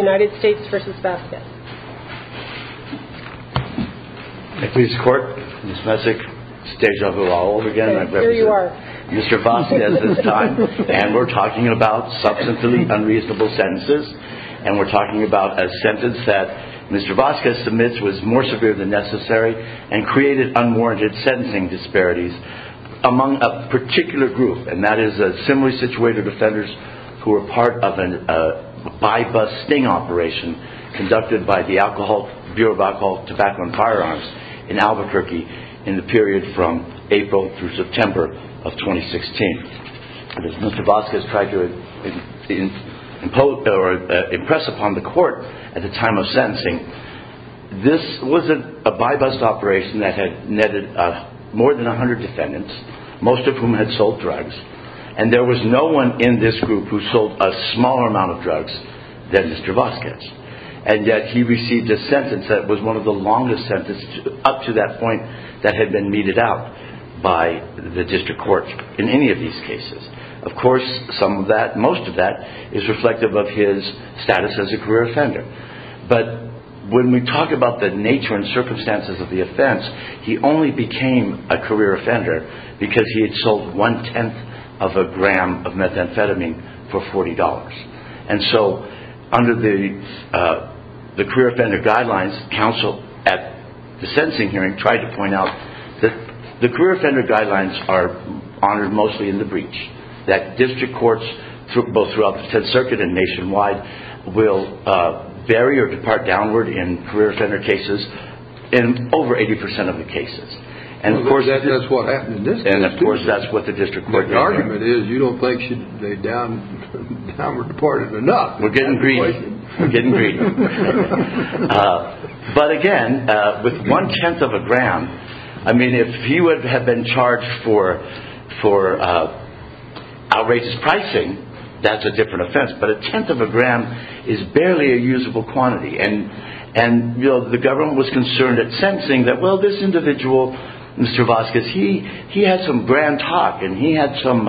Mr. Vasquez admits was more severe than necessary and created unwarranted sentencing disparities among a particular group and that is a similarly situated offenders who were part of a by bus sting operation conducted by the Bureau of Alcohol, Tobacco and Firearms in Albuquerque in the period from April through September of 2016. Mr. Vasquez tried to impress upon the court at the time of sentencing this was a by bus operation that had netted more than 100 defendants most of whom had sold drugs and there was no one in this group who sold a smaller amount of drugs than Mr. Vasquez and yet he received a sentence that was one of the longest sentences up to that point that had been meted out by the district court in any of these cases. Of course most of that is reflective of his status as a career offender but when we talk about the nature and circumstances of the offense he only became a career offender because he had sold one-tenth of a gram of methamphetamine for $40. And so under the career offender guidelines counsel at the sentencing hearing tried to point out that the career offender guidelines are honored mostly in the breach that district courts both throughout the 10th circuit and nationwide will vary or depart downward in career offender cases in over 80% of the cases. And of course that's what happened in this case too. And of course that's what the district court did. The argument is you don't think they should down or deported enough. We're getting greedy. But again with one-tenth of a gram I mean if he would have been charged for outrageous pricing that's a different offense but a tenth of a gram is barely a usable quantity and the government was concerned at sentencing that well this individual Mr. Vasquez he had some grand talk and he had some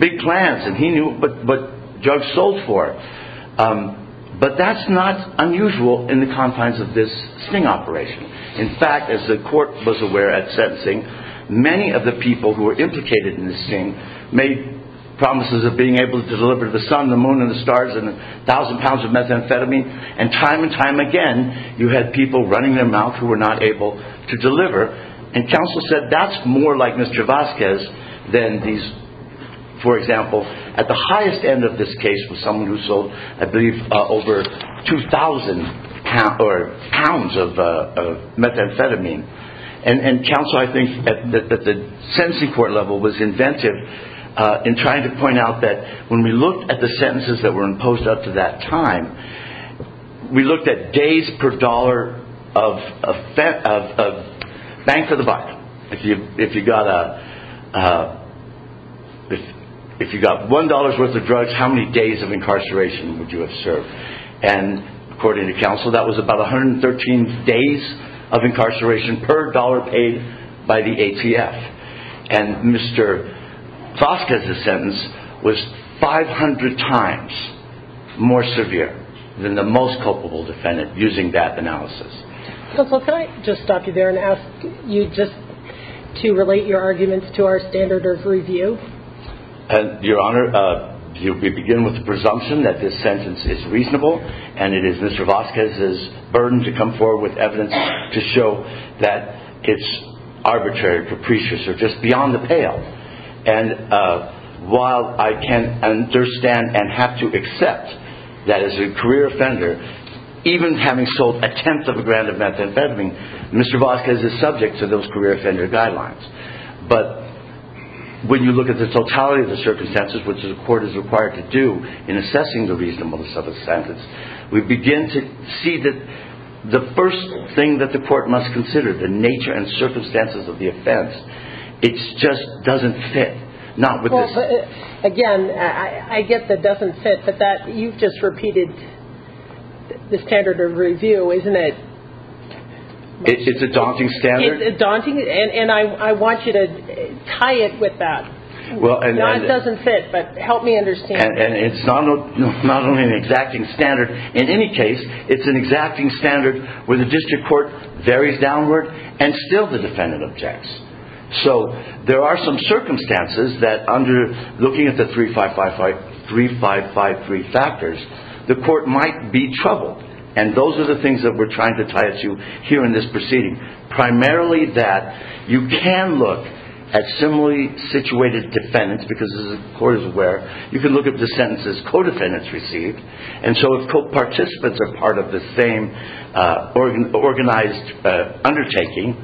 big plans and he knew what drugs sold for. But that's not unusual in the confines of this sting operation. In fact as the court was aware at sentencing many of the people who were implicated in the sting made promises of being able to deliver the sun the moon and the stars and a thousand pounds of methamphetamine and time and time again you had people running their mouth who were not able to deliver. And counsel said that's more like Mr. Vasquez than these for example at the highest end of this case was someone who sold I believe over 2,000 pounds of methamphetamine. And counsel I think that the sentencing court level was inventive in trying to point out that when we looked at the sentences that were imposed up to that time we looked at days per dollar of bank for the buck. If you got one dollar's worth of drugs how many days of incarceration would you have served and according to counsel that was about 113 days of incarceration per dollar paid by the ATF and Mr. Vasquez's sentence was 500 times more severe than the most culpable defendant using that analysis. Counsel can I just stop you there and ask you just to relate your arguments to our standard of review. Your honor we begin with the presumption that this sentence is reasonable and it is Mr. Vasquez's burden to come forward with evidence to show that it's arbitrary capricious or just beyond the pale. And while I can understand and have to accept that as a career offender even having sold a tenth of a gram of methamphetamine Mr. Vasquez is subject to those career offender guidelines. But when you look at the totality of the circumstances which the court is required to do in assessing the reasonableness of the sentence we begin to see that the first thing that the court must consider the nature and circumstances of the offense it just doesn't fit. Again I get that it doesn't fit but you just repeated the standard of review isn't it. It's a daunting standard. And I want you to tie it with that. It doesn't fit but help me understand. And it's not only an exacting standard in any case it's an exacting standard where the district court varies downward and still the defendant objects. So there are some circumstances that under looking at the three five five five three five five three factors the court might be troubled. And those are the things that we're trying to tie it to here in this proceeding. Primarily that you can look at similarly situated defendants because as the court is aware you can look at the sentences co-defendants receive. And so if co-participants are part of the same organized undertaking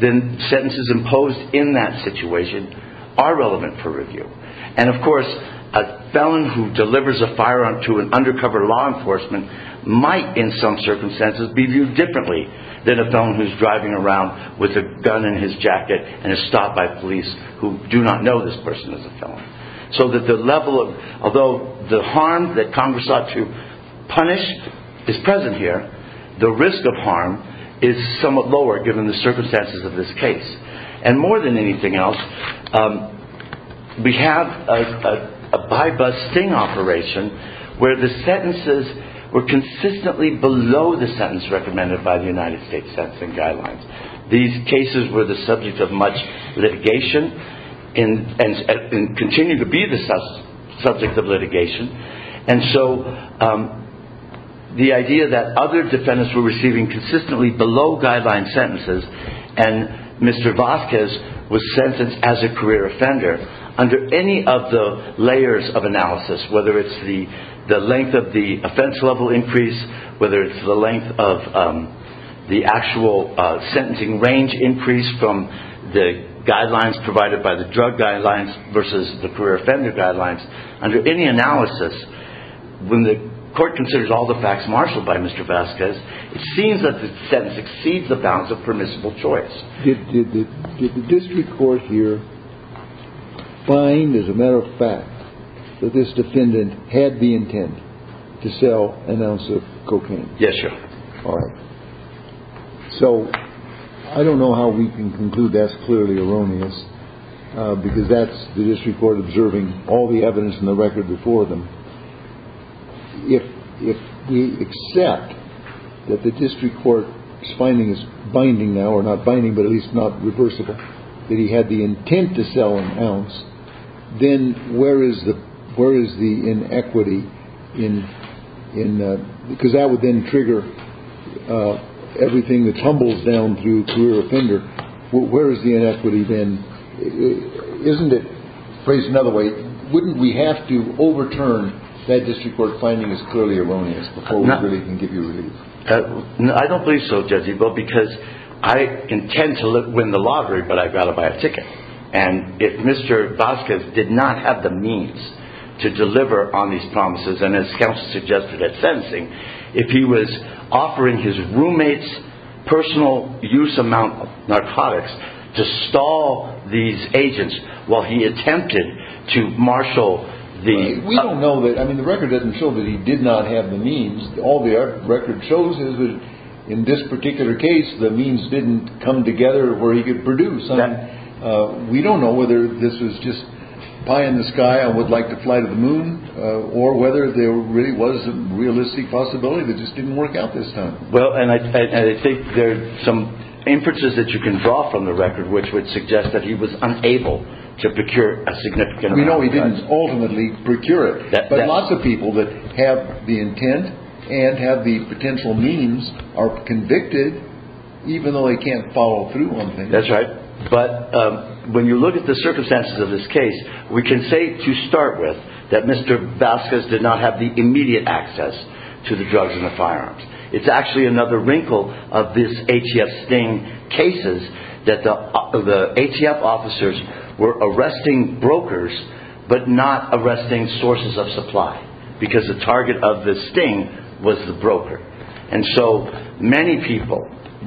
then sentences imposed in that situation are relevant for review. And of course a felon who delivers a firearm to an undercover law enforcement might in some circumstances be viewed differently than a felon who's driving around with a gun in his jacket and is stopped by police who do not know this person is a felon. So that the level of although the harm that Congress ought to punish is present here the risk of harm is somewhat lower given the circumstances of this case. And more than anything else we have a by bus sting operation where the sentences were consistently below the sentence recommended by the United States sentencing guidelines. These cases were the subject of much litigation and continue to be the subject of litigation and so the idea that other defendants were receiving consistently below guideline sentences and Mr. Vasquez was sentenced as a career offender under any of the layers of analysis whether it's the length of the offense level increase whether it's the length of the actual sentencing range increase from the guidelines provided by the drug guidelines versus the career offender guidelines under any analysis. When the court considers all the facts marshaled by Mr. Vasquez it seems that the sentence exceeds the bounds of permissible choice. Did the district court here find as a matter of fact that this defendant had the intent to sell an ounce of cocaine? Yes sir. All right. So I don't know how we can conclude that's clearly erroneous because that's the district court observing all the evidence in the record before them. If we accept that the district court finding is binding now or not binding but at least not reversible that he had the intent to sell an ounce then where is the where is the inequity in because that would then trigger everything that tumbles down through career offender. Where is the inequity then? Isn't it phrased another way wouldn't we have to overturn that district court finding is clearly erroneous before we really can give you relief. I don't believe so Judge Ebel because I intend to win the lottery but I've got to buy a ticket and if Mr. Vasquez did not have the means to deliver on these promises and as counsel suggested at sentencing. If he was offering his roommates personal use amount of narcotics to stall these agents while he attempted to marshal the. We don't know that I mean the record doesn't show that he did not have the means all the record shows is that in this particular case the means didn't come together where he could produce. We don't know whether this was just pie in the sky I would like to fly to the moon or whether there really was a realistic possibility that just didn't work out this time. Well and I think there's some inferences that you can draw from the record which would suggest that he was unable to procure a significant. We know he didn't ultimately procure it but lots of people that have the intent and have the potential means are convicted even though they can't follow through on things. That's right but when you look at the circumstances of this case we can say to start with that Mr. Vasquez did not have the immediate access to the drugs and the firearms. It's actually another wrinkle of this ATF sting cases that the ATF officers were arresting brokers but not arresting sources of supply because the target of the sting was the broker. And so many people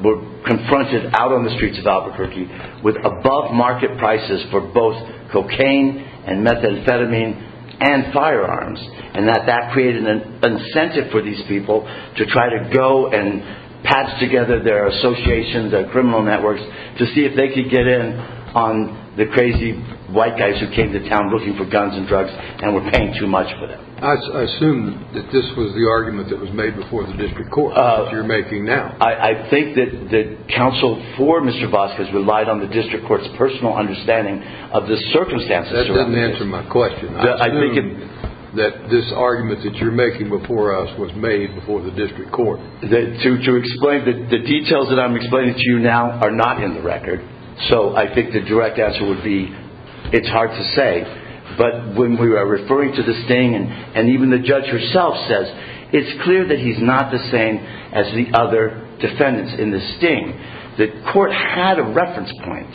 were confronted out on the streets of Albuquerque with above market prices for both cocaine and methamphetamine and firearms. And that created an incentive for these people to try to go and patch together their associations and criminal networks to see if they could get in on the crazy white guys who came to town looking for guns and drugs and were paying too much for them. I assume that this was the argument that was made before the district court that you're making now. I think that counsel for Mr. Vasquez relied on the district court's personal understanding of the circumstances. That doesn't answer my question. I assume that this argument that you're making before us was made before the district court. The details that I'm explaining to you now are not in the record so I think the direct answer would be it's hard to say but when we were referring to the sting and even the judge herself says it's clear that he's not the same as the other defendants in the sting. The court had a reference point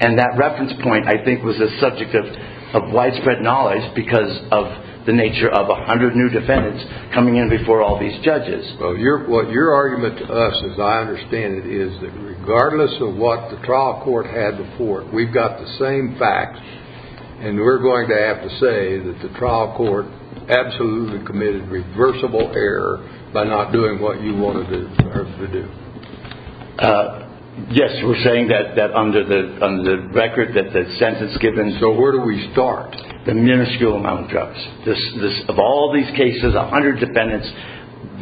and that reference point I think was a subject of widespread knowledge because of the nature of a hundred new defendants coming in before all these judges. Your argument to us as I understand it is that regardless of what the trial court had before it, we've got the same facts and we're going to have to say that the trial court absolutely committed reversible error by not doing what you wanted them to do. Yes, we're saying that under the record that the sentence given. So where do we start? The minuscule amount of drugs. Of all these cases, a hundred defendants,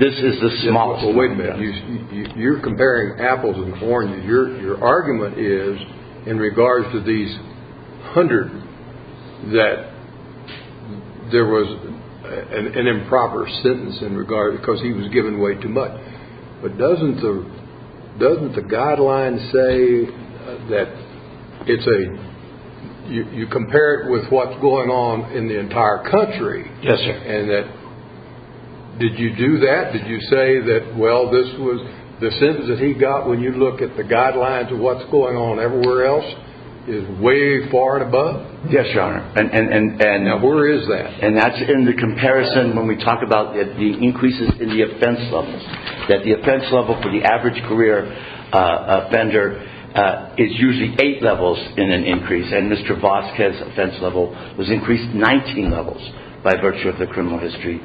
this is the smallest. Wait a minute. You're comparing apples and oranges. Your argument is in regards to these hundred that there was an improper sentence in regards because he was given way too much. But doesn't the guideline say that you compare it with what's going on in the entire country? Yes, sir. Did you do that? Did you say that the sentence that he got when you look at the guidelines of what's going on everywhere else is way far and above? Yes, your honor. Now where is that? And that's in the comparison when we talk about the increases in the offense levels. That the offense level for the average career offender is usually eight levels in an increase. And Mr. Voskes' offense level was increased 19 levels by virtue of the criminal history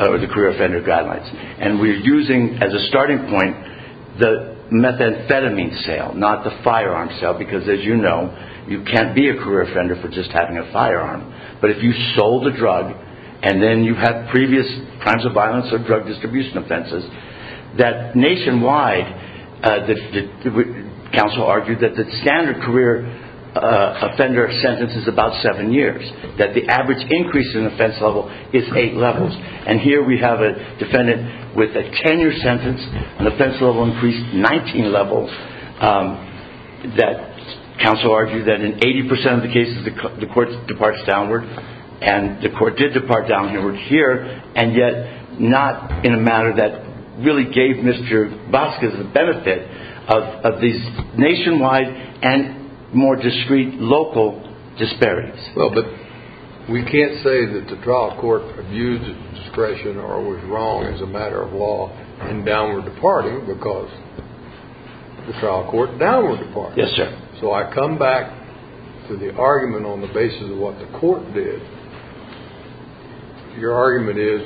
or the career offender guidelines. And we're using as a starting point the methamphetamine sale, not the firearm sale because as you know, you can't be a career offender for just having a firearm. But if you sold a drug and then you had previous crimes of violence or drug distribution offenses, that nationwide, the counsel argued that the standard career offender sentence is about seven years. That the average increase in offense level is eight levels. And here we have a defendant with a 10-year sentence, an offense level increased 19 levels. That counsel argued that in 80% of the cases the court departs downward. And the court did depart downward here. And yet not in a manner that really gave Mr. Voskes the benefit of these nationwide and more discrete local disparities. Well, but we can't say that the trial court abused discretion or was wrong as a matter of law in downward departing because the trial court downward departed. Yes, sir. So I come back to the argument on the basis of what the court did. Your argument is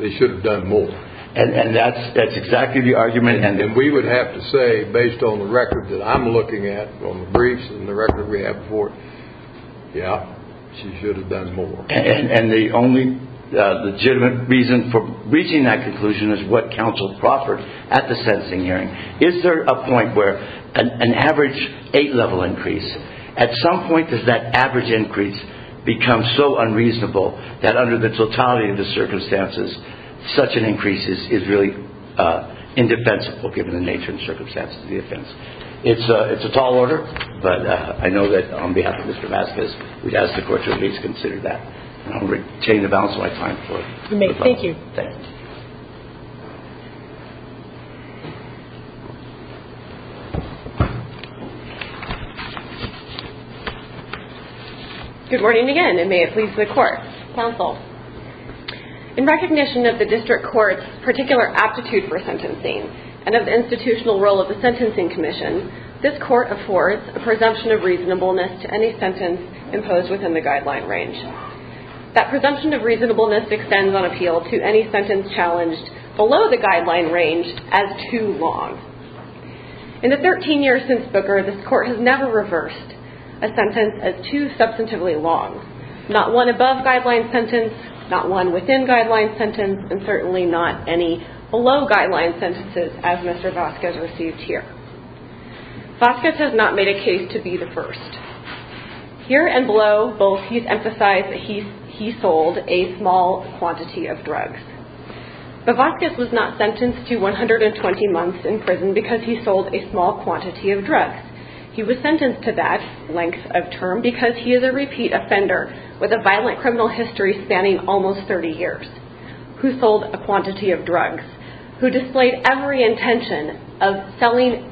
they should have done more. And that's exactly the argument. And we would have to say based on the record that I'm looking at, on the briefs and the record we have before, yeah, she should have done more. And the only legitimate reason for reaching that conclusion is what counsel proffered at the sentencing hearing. Is there a point where an average eight-level increase, at some point does that average increase become so unreasonable that under the totality of the circumstances, such an increase is really indefensible given the nature and circumstances of the offense? It's a tall order, but I know that on behalf of Mr. Voskes, we'd ask the court to at least consider that. And I'll retain the balance of my time. Thank you. Thank you. Good morning again, and may it please the court. Counsel. In recognition of the district court's particular aptitude for sentencing and of the institutional role of the Sentencing Commission, this court affords a presumption of reasonableness to any sentence imposed within the guideline range. That presumption of reasonableness extends on appeal to any sentence challenged below the guideline range as too long. In the 13 years since Booker, this court has never reversed a sentence as too substantively long, not one above guideline sentence, not one within guideline sentence, and certainly not any below guideline sentences as Mr. Voskes received here. Voskes has not made a case to be the first. Here and below, both he's emphasized that he sold a small quantity of drugs. But Voskes was not sentenced to 120 months in prison because he sold a small quantity of drugs. He was sentenced to that length of term because he is a repeat offender with a violent criminal history spanning almost 30 years, who sold a quantity of drugs, who displayed every intention of selling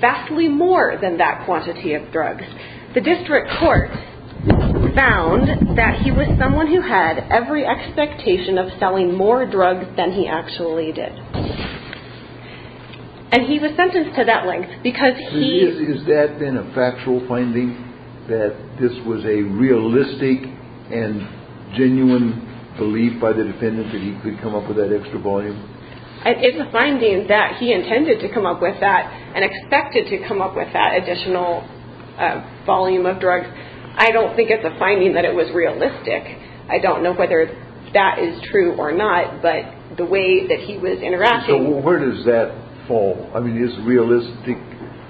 vastly more than that quantity of drugs. The district court found that he was someone who had every expectation of selling more drugs than he actually did. And he was sentenced to that length because he... Has that been a factual finding, that this was a realistic and genuine belief by the defendant that he could come up with that extra volume? It's a finding that he intended to come up with that and expected to come up with that additional volume of drugs. I don't think it's a finding that it was realistic. I don't know whether that is true or not. But the way that he was interacting... So where does that fall? I mean, is realistic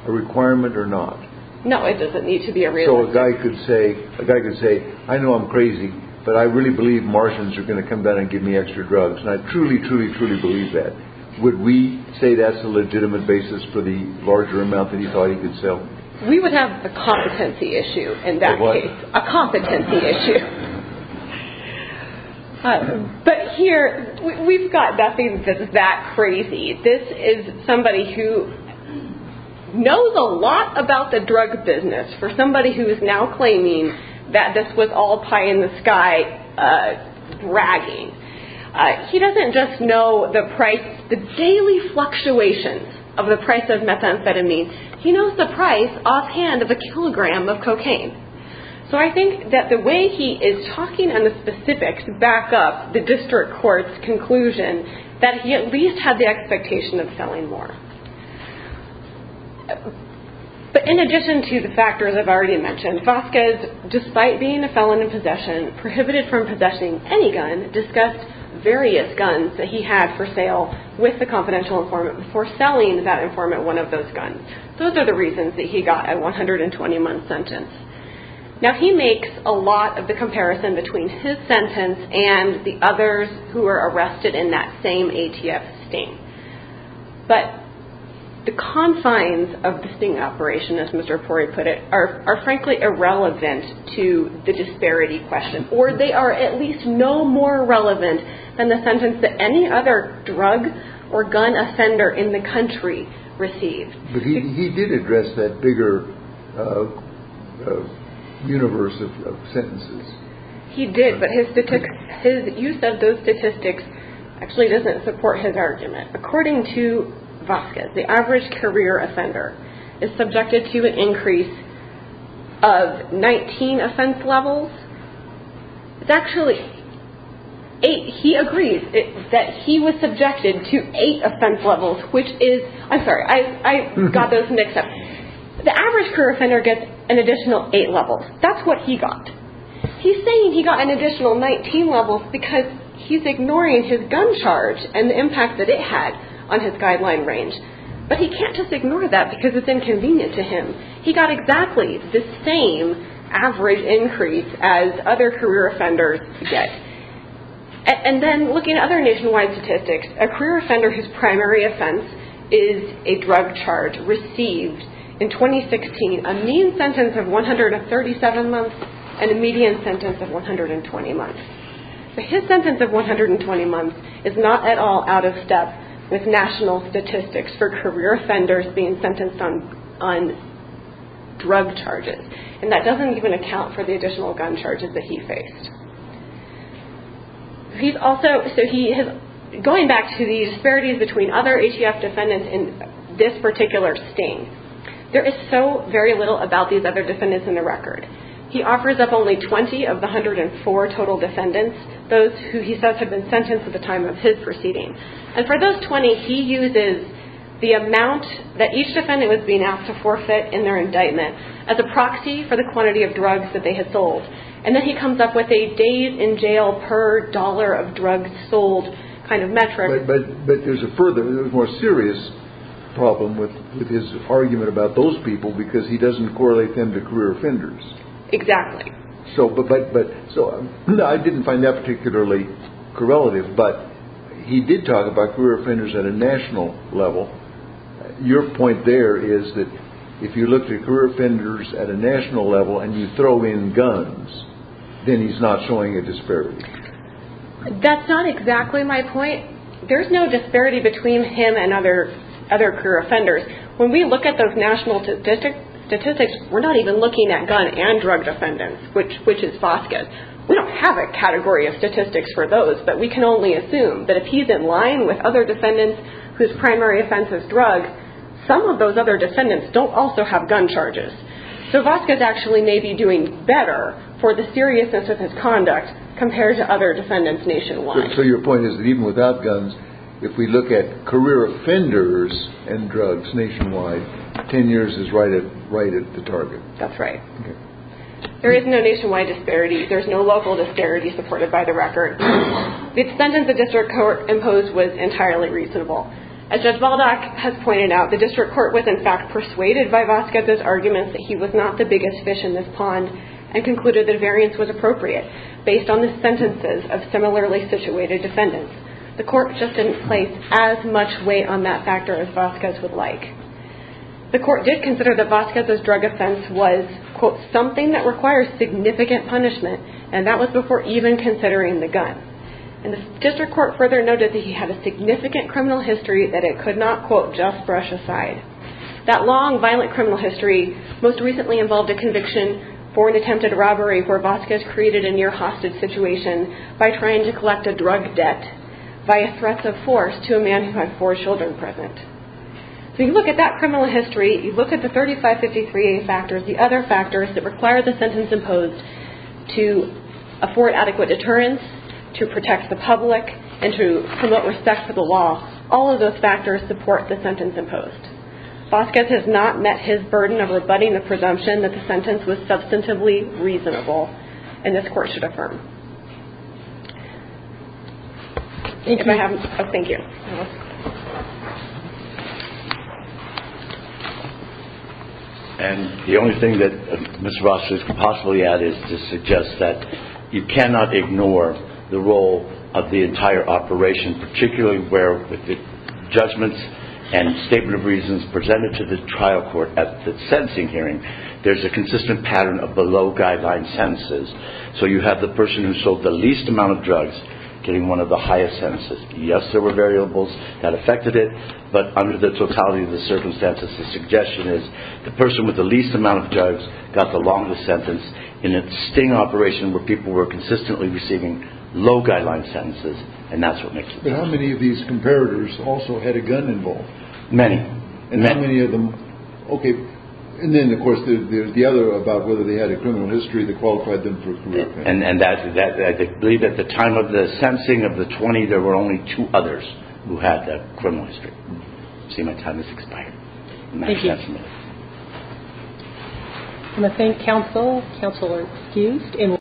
a requirement or not? No, it doesn't need to be a realistic... So a guy could say, I know I'm crazy, but I really believe Martians are going to come down and give me extra drugs. And I truly, truly, truly believe that. Would we say that's a legitimate basis for the larger amount that he thought he could sell? We would have a competency issue in that case. A what? A competency issue. But here, we've got nothing that's that crazy. This is somebody who knows a lot about the drug business for somebody who is now claiming that this was all pie in the sky bragging. He doesn't just know the daily fluctuations of the price of methamphetamine. He knows the price offhand of a kilogram of cocaine. So I think that the way he is talking on the specifics back up the district court's conclusion that he at least had the expectation of selling more. But in addition to the factors I've already mentioned, Vasquez, despite being a felon in possession, prohibited from possessing any gun, discussed various guns that he had for sale with the confidential informant before selling that informant one of those guns. Those are the reasons that he got a 120 month sentence. Now he makes a lot of the comparison between his sentence and the others who were arrested in that same ATF sting. But the confines of the sting operation, as Mr. Pori put it, are frankly irrelevant to the disparity question, or they are at least no more relevant than the sentence that any other drug or gun offender in the country received. But he did address that bigger universe of sentences. He did, but his use of those statistics actually doesn't support his argument. According to Vasquez, the average career offender is subjected to an increase of 19 offense levels. It's actually eight. He agrees that he was subjected to eight offense levels, which is, I'm sorry, I got those mixed up. The average career offender gets an additional eight levels. That's what he got. He's saying he got an additional 19 levels because he's ignoring his gun charge and the impact that it had on his guideline range. But he can't just ignore that because it's inconvenient to him. He got exactly the same average increase as other career offenders get. And then looking at other nationwide statistics, a career offender whose primary offense is a drug charge, received in 2016 a mean sentence of 137 months and a median sentence of 120 months. But his sentence of 120 months is not at all out of step with national statistics for career offenders being sentenced on drug charges. And that doesn't even account for the additional gun charges that he faced. Going back to the disparities between other HEF defendants in this particular sting, there is so very little about these other defendants in the record. He offers up only 20 of the 104 total defendants, those who he says had been sentenced at the time of his proceeding. And for those 20, he uses the amount that each defendant was being asked to forfeit in their indictment as a proxy for the quantity of drugs that they had sold. And then he comes up with a days-in-jail-per-dollar-of-drugs-sold kind of metric. But there's a more serious problem with his argument about those people because he doesn't correlate them to career offenders. Exactly. I didn't find that particularly correlative, but he did talk about career offenders at a national level. Your point there is that if you looked at career offenders at a national level and you throw in guns, then he's not showing a disparity. That's not exactly my point. There's no disparity between him and other career offenders. When we look at those national statistics, we're not even looking at gun and drug defendants, which is FOSCAS. We don't have a category of statistics for those, but we can only assume that if he's in line with other defendants whose primary offense is drugs, some of those other defendants don't also have gun charges. So FOSCAS actually may be doing better for the seriousness of his conduct compared to other defendants nationwide. So your point is that even without guns, if we look at career offenders and drugs nationwide, 10 years is right at the target. That's right. There is no nationwide disparity. There's no local disparity supported by the record. The sentence the district court imposed was entirely reasonable. As Judge Baldock has pointed out, the district court was in fact persuaded by FOSCAS's arguments that he was not the biggest fish in this pond and concluded that a variance was appropriate based on the sentences of similarly situated defendants. The court just didn't place as much weight on that factor as FOSCAS would like. The court did consider that FOSCAS's drug offense was, quote, something that requires significant punishment, and that was before even considering the gun. And the district court further noted that he had a significant criminal history that it could not, quote, just brush aside. That long, violent criminal history most recently involved a conviction for an attempted robbery where FOSCAS created a near hostage situation by trying to collect a drug debt via threats of force to a man who had four children present. So you look at that criminal history, you look at the 3553A factors, the other factors that require the sentence imposed to afford adequate deterrence, to protect the public, and to promote respect for the law, all of those factors support the sentence imposed. FOSCAS has not met his burden of rebutting the presumption that the sentence was substantively reasonable, and this court should affirm. If I have, oh, thank you. And the only thing that Ms. Ross could possibly add is to suggest that you cannot ignore the role of the entire operation, particularly where with the judgments and statement of reasons presented to the trial court at the sentencing hearing, there's a consistent pattern of below-guideline sentences. So you have the person who sold the least amount of drugs getting one of the highest sentences. Yes, there were variables that affected it, but under the totality of the circumstances, the suggestion is the person with the least amount of drugs got the longest sentence in a sting operation where people were consistently receiving low-guideline sentences, and that's what makes it worse. But how many of these comparators also had a gun involved? Many. And how many of them, okay. And then, of course, there's the other about whether they had a criminal history that qualified them for career pay. And I believe at the time of the sentencing of the 20, there were only two others who had that criminal history. See, my time has expired. Thank you. I'm going to thank counsel. Counsel are excused.